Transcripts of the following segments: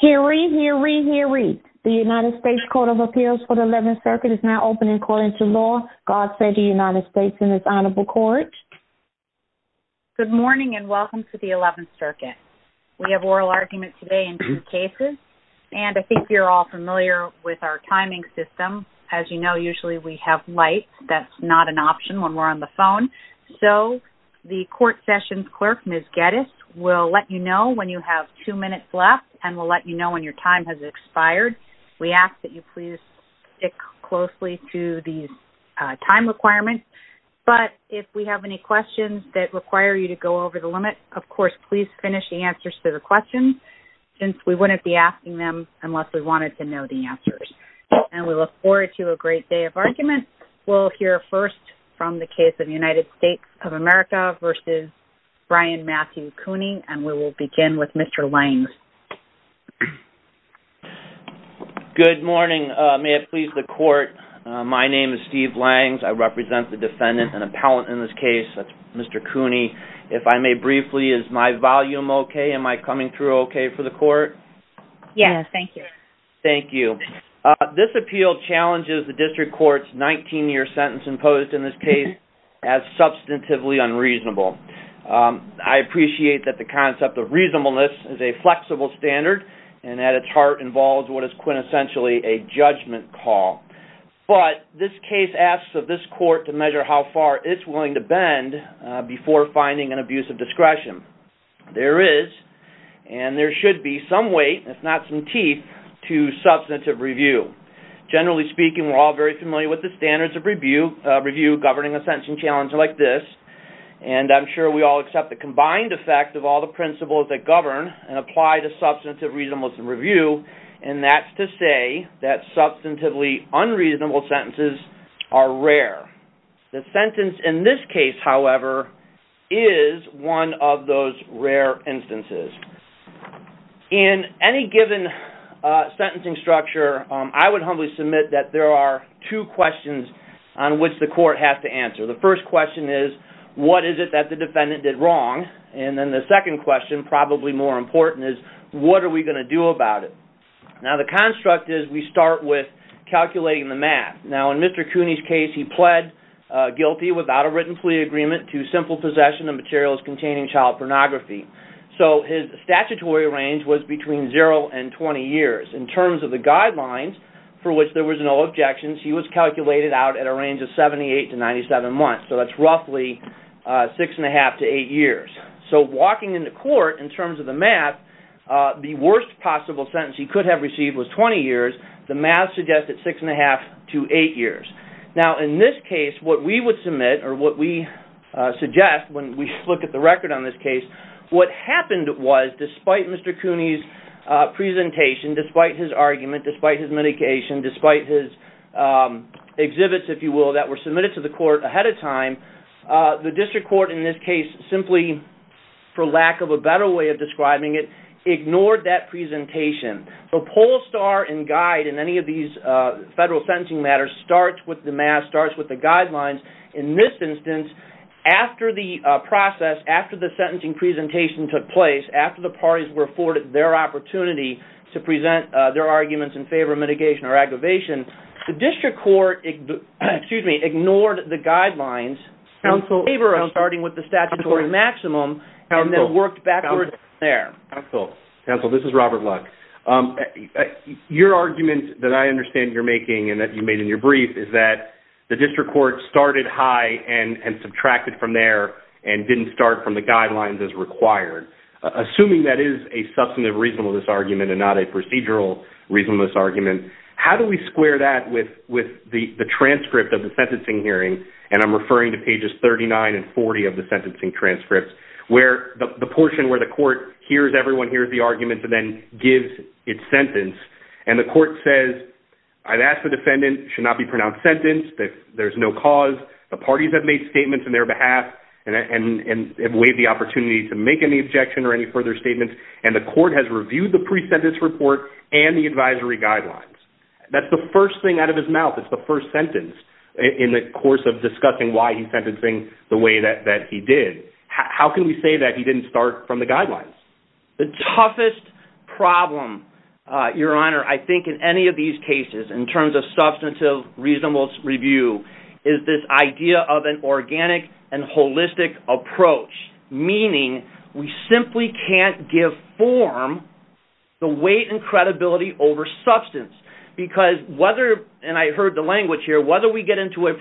Hear ye, hear ye, hear ye. The United States Court of Appeals for the 11th Circuit is now open and according to law, God save the United States and its honorable court. Good morning and welcome to the 11th Circuit. We have oral arguments today in two cases and I think you're all familiar with our timing system. As you know, usually we have light. That's not an option when we're on the phone. So the court sessions clerk, Ms. Geddes, will let you know when you have two minutes left and will let you know when your time has expired. We ask that you please stick closely to these time requirements, but if we have any questions that require you to go over the limit, of course, please finish the answers to the questions since we wouldn't be asking them unless we wanted to know the answers. And we look forward to a great day of argument. We'll hear first from the case of United States of America v. Bryan Matthew Cooney and we have Steve Langs. Good morning. May it please the court, my name is Steve Langs. I represent the defendant and appellant in this case, Mr. Cooney. If I may briefly, is my volume okay? Am I coming through okay for the court? Yes, thank you. Thank you. This appeal challenges the district court's 19-year sentence imposed in this case as substantively unreasonable. I appreciate that the concept of a flexible standard and at its heart involves what is quintessentially a judgment call, but this case asks of this court to measure how far it's willing to bend before finding an abuse of discretion. There is and there should be some weight, if not some teeth, to substantive review. Generally speaking, we're all very familiar with the standards of review governing a sentencing challenge like this and I'm sure we all accept the combined effect of all the principles that govern and apply to substantive reasonableness in review and that's to say that substantively unreasonable sentences are rare. The sentence in this case, however, is one of those rare instances. In any given sentencing structure, I would humbly submit that there are two questions on which the court has to answer. The first question is what is it that the defendant did wrong and then the second question, probably more important, is what are we going to do about it? Now the construct is we start with calculating the math. Now in Mr. Cooney's case, he pled guilty without a written plea agreement to simple possession of materials containing child pornography, so his statutory range was between zero and 20 years. In terms of the guidelines, for which there was no objections, he was calculated out at a six-and-a-half to eight years. So walking into court, in terms of the math, the worst possible sentence he could have received was 20 years. The math suggests at six-and-a-half to eight years. Now in this case, what we would submit or what we suggest when we look at the record on this case, what happened was despite Mr. Cooney's presentation, despite his argument, despite his medication, despite his exhibits, if you will, that were submitted to the court ahead of time, the case simply, for lack of a better way of describing it, ignored that presentation. The poll star and guide in any of these federal sentencing matters starts with the math, starts with the guidelines. In this instance, after the process, after the sentencing presentation took place, after the parties were afforded their opportunity to present their arguments in favor of mitigation or aggravation, the district court ignored the guidelines in favor of starting with the statutory maximum and then worked backwards from there. Counsel, this is Robert Luck. Your argument that I understand you're making and that you made in your brief is that the district court started high and subtracted from there and didn't start from the guidelines as required. Assuming that is a substantive reasonableness argument and not a procedural reasonableness argument, how do we square that with the transcript of the sentencing hearing, and I'm referring to pages 39 and 40 of the sentencing transcripts, where the portion where the court hears everyone hears the arguments and then gives its sentence, and the court says, I've asked the defendant should not be pronounced sentenced, that there's no cause, the parties have made statements on their behalf and have waived the opportunity to make any objection or any further statements, and the court has reviewed the pre-sentence report and the advisory guidelines. That's the first thing out of his mouth. It's the first sentence in the course of discussing why he's sentencing the way that he did. How can we say that he didn't start from the guidelines? The toughest problem, Your Honor, I think in any of these cases in terms of substantive reasonableness review is this idea of an organic and holistic approach, meaning we simply can't give form the weight and credibility over substance, because whether, and I heard the language here, whether we get into a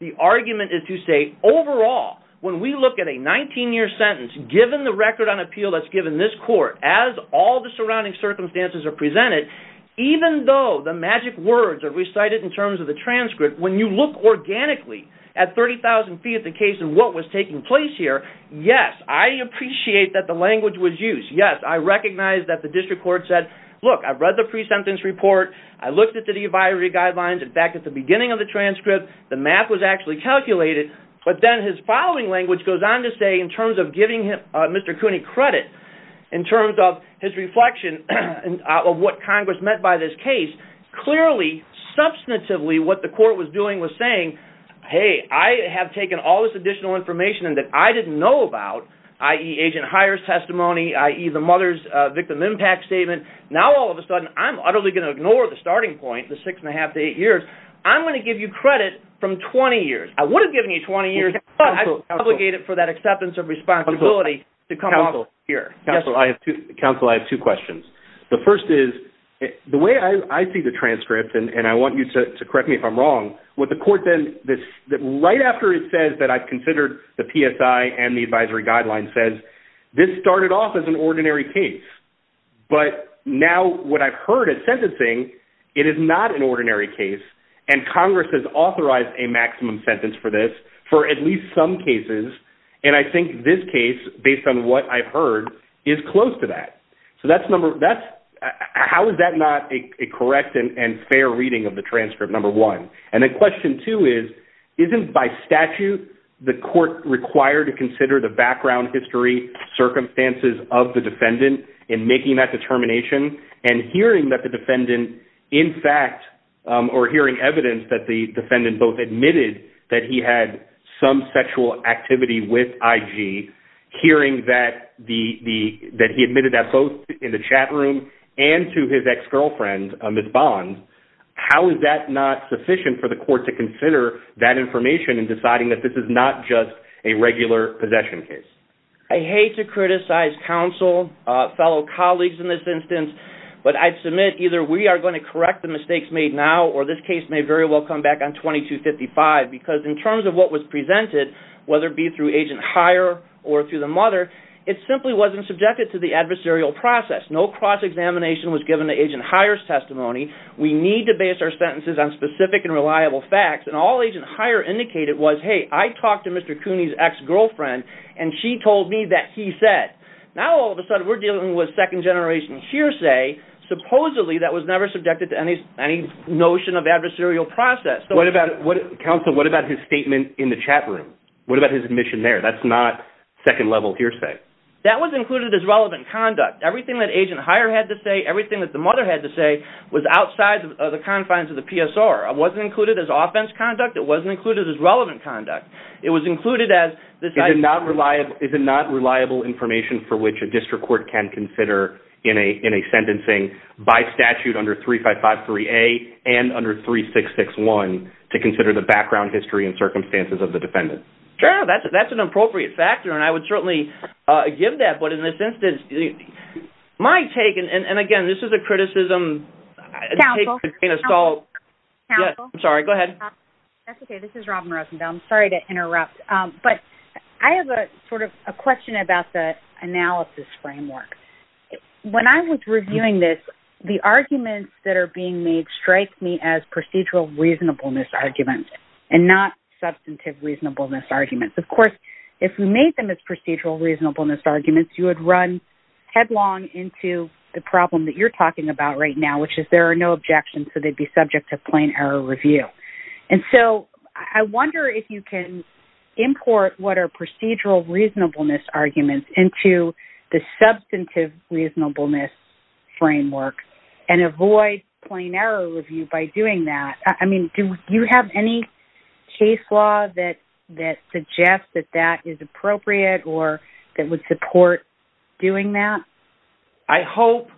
the argument is to say, overall, when we look at a 19-year sentence, given the record on appeal that's given this court, as all the surrounding circumstances are presented, even though the magic words are recited in terms of the transcript, when you look organically at 30,000 feet the case and what was taking place here, yes, I appreciate that the language was used. Yes, I recognize that the district court said, look, I've read the pre-sentence report. I looked at the pre-binary guidelines. In fact, at the beginning of the transcript, the math was actually calculated. But then his following language goes on to say, in terms of giving Mr. Cooney credit, in terms of his reflection of what Congress meant by this case, clearly, substantively, what the court was doing was saying, hey, I have taken all this additional information that I didn't know about, i.e. Agent Hire's testimony, i.e. the mother's victim impact statement, now all of a sudden, I'm utterly going to ignore the starting point, the six and a half to eight years. I'm going to give you credit from 20 years. I would have given you 20 years, but I was obligated for that acceptance of responsibility to come out here. Counsel, I have two questions. The first is, the way I see the transcript, and I want you to correct me if I'm wrong, what the court then, right after it says that I've considered the PSI and the advisory guidelines says, this started off as an extraordinary case. So what I've heard at sentencing, it is not an ordinary case, and Congress has authorized a maximum sentence for this for at least some cases, and I think this case, based on what I've heard, is close to that. So that's number, that's, how is that not a correct and fair reading of the transcript, number one? And then question two is, isn't by statute, the court required to consider the background, history, circumstances of the defendant in making that determination, and hearing that the defendant, in fact, or hearing evidence that the defendant both admitted that he had some sexual activity with IG, hearing that he admitted that both in the chat room and to his ex-girlfriend, Ms. Bond, how is that not sufficient for the court to consider that information in deciding that this is not just a regular possession case? I hate to criticize counsel, fellow colleagues in this instance, but I'd submit either we are going to correct the mistakes made now, or this case may very well come back on 2255, because in terms of what was presented, whether it be through Agent Heyer or through the mother, it simply wasn't subjected to the adversarial process. No cross-examination was given to Agent Heyer's testimony. We need to base our sentences on specific and reliable facts, and all Agent Heyer indicated was, hey, I talked to Mr. Cooney's ex-girlfriend, and she told me that he said. Now all of a sudden we're dealing with second-generation hearsay, supposedly that was never subjected to any notion of adversarial process. Counsel, what about his statement in the chat room? What about his admission there? That's not second-level hearsay. That was included as relevant conduct. Everything that Agent Heyer had to say, everything that the mother had to say, was outside of the confines of the PSR. It wasn't included as offense conduct. It wasn't included as relevant conduct. It was included as, is it not reliable information for which a district court can consider in a sentencing by statute under 3553A and under 3661 to consider the background, history, and circumstances of the defendant? Sure, that's an appropriate factor, and I would certainly give that, but in this instance, my take, and again, this is a criticism. Counsel? Yes, I'm sorry, go ahead. That's okay, this is Robin Rosenthal. I'm sorry to interrupt, but I have a sort of a question about the analysis framework. When I was reviewing this, the arguments that are being made strike me as procedural reasonableness arguments, and not substantive reasonableness arguments. Of course, if we made them as procedural reasonableness arguments, you would run headlong into the problem that you're talking about right now, which is there are no objections, so they'd be subject to plain error review. And so, I wonder if you can import what are procedural reasonableness arguments into the substantive reasonableness framework and avoid plain error review by doing that. I mean, do you have any case law that suggests that that is appropriate or that would support doing that? I hope,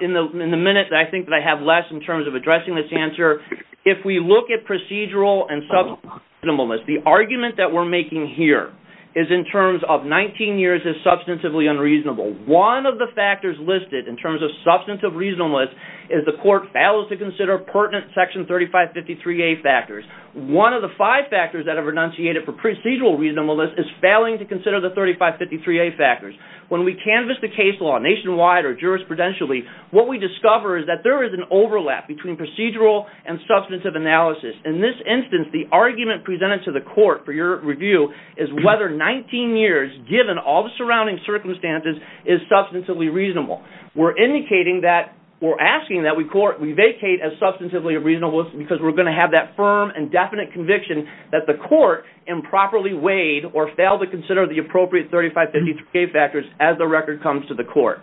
in the minute that I think that I have left in terms of addressing this answer, if we look at procedural and substantive reasonableness, the argument that we're making here is in terms of 19 years as substantively unreasonable. One of the factors listed in terms of substantive reasonableness is the court fails to consider pertinent Section 3553A factors. One of the five factors that have enunciated for procedural reasonableness is failing to consider the 3553A factors. When we canvass the case law nationwide or jurisprudentially, what we discover is that there is an overlap between procedural and substantive analysis. In this instance, the argument presented to the court for your review is whether 19 years, given all the surrounding circumstances, is substantively reasonable. We're indicating that, we're asking that we vacate as substantively unreasonable because we're going to have that firm and definite conviction that the court improperly weighed or failed to consider the appropriate 3553A factors as the record comes to the court.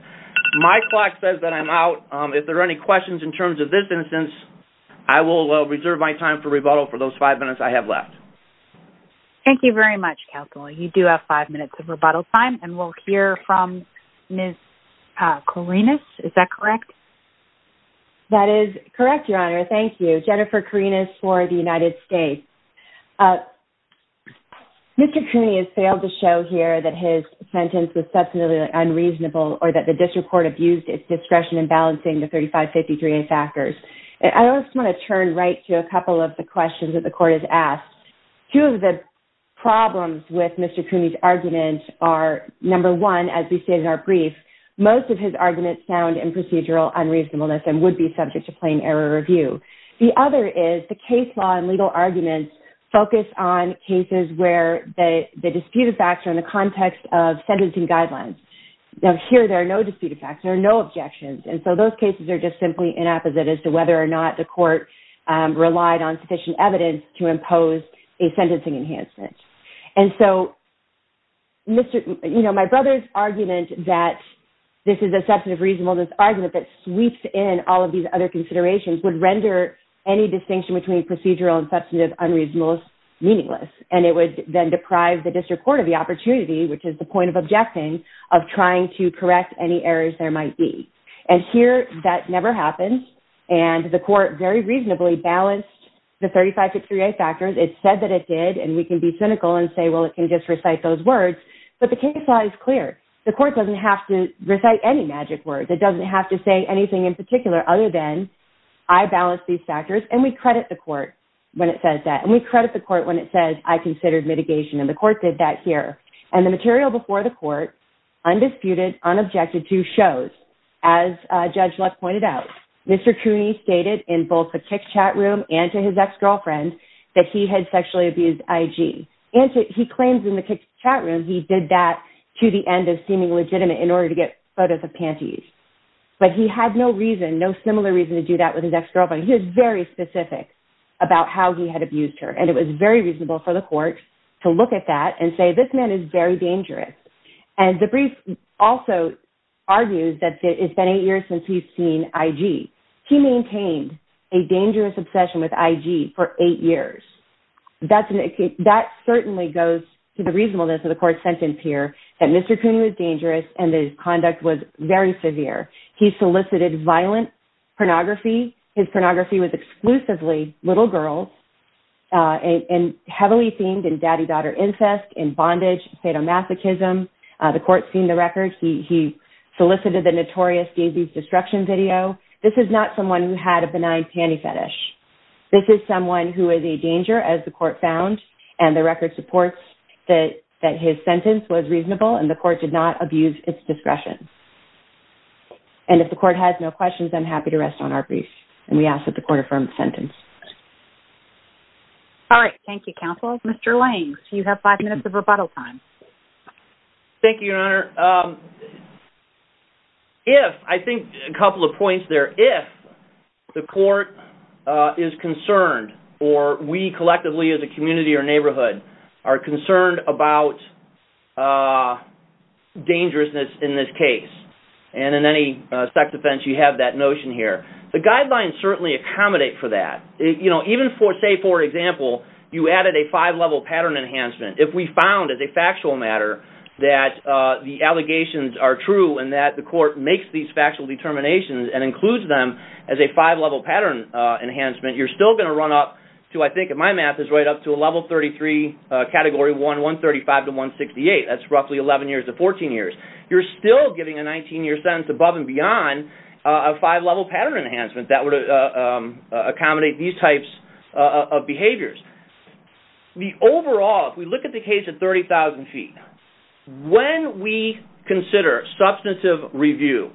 My clock says that I'm out. If there are any questions in terms of this instance, I will reserve my time for rebuttal for those five minutes I have left. Thank you very much, Counselor. You do have five minutes of rebuttal time and we'll hear from Ms. Corinas. Is that correct? That is correct, Your Honor. Thank you. Jennifer Corinas for the United States. Mr. Cooney has failed to show here that his sentence was substantively unreasonable or that the district court abused its discretion in balancing the 3553A factors. I just want to turn right to a couple of the questions that the court has asked. Two of the problems with Mr. Cooney's argument are number one, as we stated in our brief, most of his arguments sound in procedural unreasonableness and would be subject to plain error review. The other is the case law and legal arguments focus on cases where the disputed facts are in the context of sentencing guidelines. Here, there are no disputed facts. There are no objections. Those cases are just simply inapposite as to whether or not the court relied on sufficient evidence to impose a sentencing enhancement. My brother's argument that this is a substantive reasonableness argument that sweeps in all of these other It would then deprive the district court of the opportunity, which is the point of objecting, of trying to correct any errors there might be. Here, that never happens, and the court very reasonably balanced the 3553A factors. It said that it did, and we can be cynical and say, well, it can just recite those words, but the case law is clear. The court doesn't have to recite any magic words. It doesn't have to say anything We credit the court when it says that, and we credit the court when it says I considered mitigation. The court did that here, and the material before the court, undisputed, unobjected to, shows, as Judge Luck pointed out, Mr. Cooney stated in both the kick chat room and to his ex-girlfriend that he had sexually abused IG. He claims in the kick chat room he did that to the end of seeming legitimate in order to get photos of panties, but he had no reason, no similar reason to do that with his ex-girlfriend. He was very specific about how he had abused her, and it was very reasonable for the court to look at that and say, this man is very dangerous. And the brief also argues that it's been eight years since he's seen IG. He maintained a dangerous obsession with IG for eight years. That certainly goes to the reasonableness of the court's sentence here, that Mr. Cooney was dangerous, and his conduct was very severe. He solicited violent pornography. His pornography was exclusively little girls, and heavily themed in daddy-daughter incest, in bondage, sadomasochism. The court's seen the record. He solicited the notorious Daisy's destruction video. This is not someone who had a benign panty fetish. This is someone who is a danger, as the court found, and the record supports that his sentence was reasonable, and the court did not abuse its discretion. And if the court has no questions, I'm happy to rest on our brief. And we ask that the court affirm the sentence. All right. Thank you, counsel. Mr. Lane, you have five minutes of rebuttal time. Thank you, Your Honor. If, I think a couple of points there, if the court is concerned, or we collectively as a community or neighborhood are concerned about dangerousness in this case, and in any sex offense, you have that notion here. The guidelines certainly accommodate for that. Even, say, for example, you added a five-level pattern enhancement. If we found, as a factual matter, that the allegations are true, and that the court makes these factual determinations and includes them as a five-level pattern enhancement, you're still going to run up to, I think in my math, is right up to a level 33 category 135 to 168. That's roughly 11 years to 14 years. You're still giving a 19-year sentence above and beyond a five-level pattern enhancement that would accommodate these types of behaviors. The overall, if we look at the case at 30,000 feet, when we consider substantive review,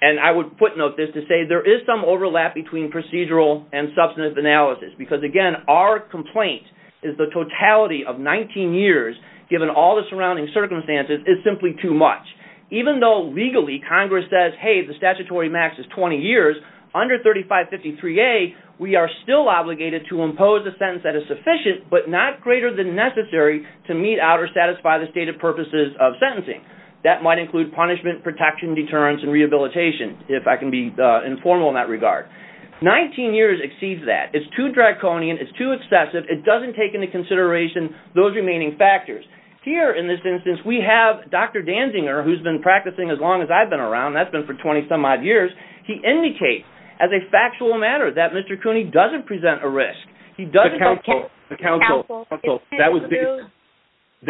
and I would footnote this to say there is some overlap between procedural and substantive analysis, because, again, our complaint is the totality of 19 years, given all the surrounding circumstances, is simply too much. Even though, legally, Congress says, hey, the statutory max is 20 years, under 3553A, we are still obligated to impose a sentence that is sufficient, but not greater than necessary to meet out or satisfy the stated purposes of sentencing. That might include punishment, protection, deterrence, and rehabilitation, if I can be informal in that regard. 19 years exceeds that. It's too draconian. It's too excessive. It doesn't take into consideration those remaining factors. Here, in this instance, we have Dr. Danzinger, who's been practicing as long as I've been around. That's been for 20-some-odd years. He indicates as a factual matter that Mr. Cooney doesn't present a risk. He doesn't counsel. That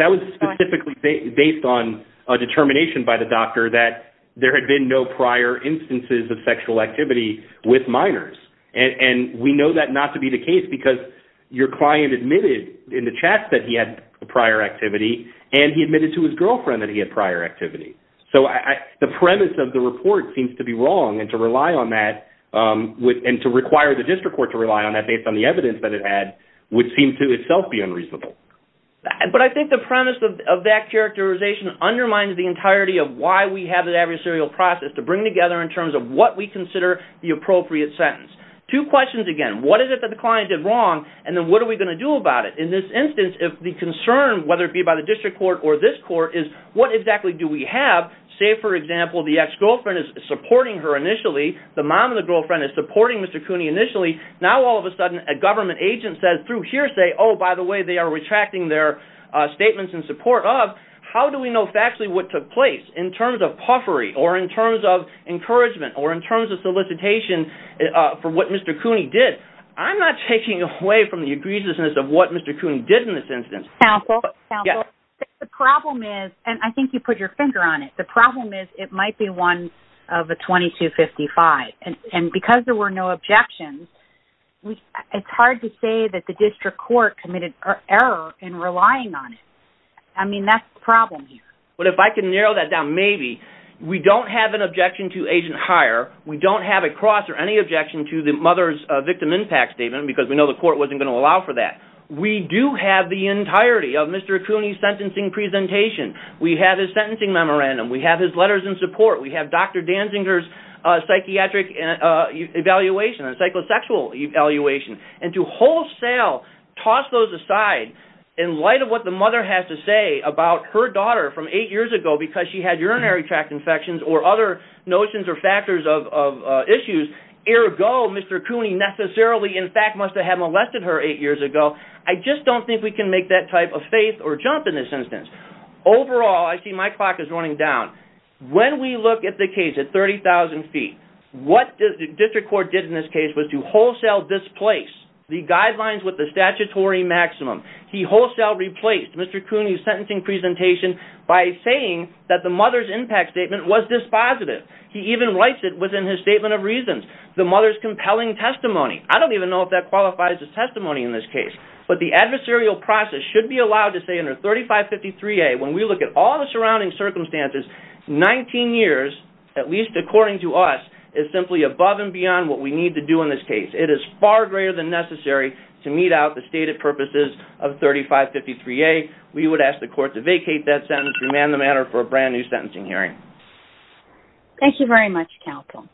was specifically based on a determination by the doctor that there had been no prior instances of sexual activity with minors. We know that not to be the case, because your client admitted in the chat that he had prior activity, and he admitted to his girlfriend that he had prior activity. The premise of the report seems to be wrong, and to rely on that, and to require the district court to rely on that based on the evidence that it had, would seem to itself be unreasonable. But I think the premise of that characterization undermines the entirety of why we have an adversarial process to bring together in terms of what we consider the appropriate sentence. Two questions again. What is it that the client did wrong, and then what are we going to do about it? In this instance, if the concern whether it be by the district court or this court is, what exactly do we have? Say, for example, the ex-girlfriend is supporting her initially. The mom of the girlfriend is supporting Mr. Cooney initially. Now, all of a sudden, a government agent says through hearsay, oh, by the way, they are retracting their statements in support of. How do we know factually what took place in terms of puffery, or in terms of encouragement, or in terms of solicitation for what Mr. Cooney did? I'm not taking away from the egregiousness of what Mr. Cooney did in this instance. Counsel? Counsel? The problem is, and I think you put your finger on it, the problem is it might be one of a 2255, and because there were no objections, it's hard to say that the district court committed error in relying on it. I mean, that's the problem here. But if I can have an objection to agent hire, we don't have a cross or any objection to the mother's victim impact statement, because we know the court wasn't going to allow for that. We do have the entirety of Mr. Cooney's sentencing presentation. We have his sentencing memorandum. We have his letters in support. We have Dr. Danzinger's psychiatric evaluation and psychosexual evaluation. And to wholesale, toss those aside, in light of what the mother has to say about her daughter from eight years ago because she had urinary tract infections or other notions or factors of issues, ergo Mr. Cooney necessarily in fact must have molested her eight years ago, I just don't think we can make that type of faith or jump in this instance. Overall, I see my clock is running down. When we look at the case at 30,000 feet, what the district court did in this case was to wholesale displace the guidelines with the statutory maximum. He wholesale replaced Mr. Cooney's sentencing presentation by saying that the mother's impact statement was dispositive. He even writes it within his statement of reasons. The mother's compelling testimony. I don't even know if that qualifies as testimony in this case. But the adversarial process should be allowed to say under 3553A, when we look at all the surrounding circumstances, 19 years, at least according to us, is simply above and beyond what we need to do in this case. It is far greater than necessary to meet out the stated purposes of the statute. With that, I would like to vacate that sentence and demand the matter for a brand new sentencing hearing. Thank you very much, counsel.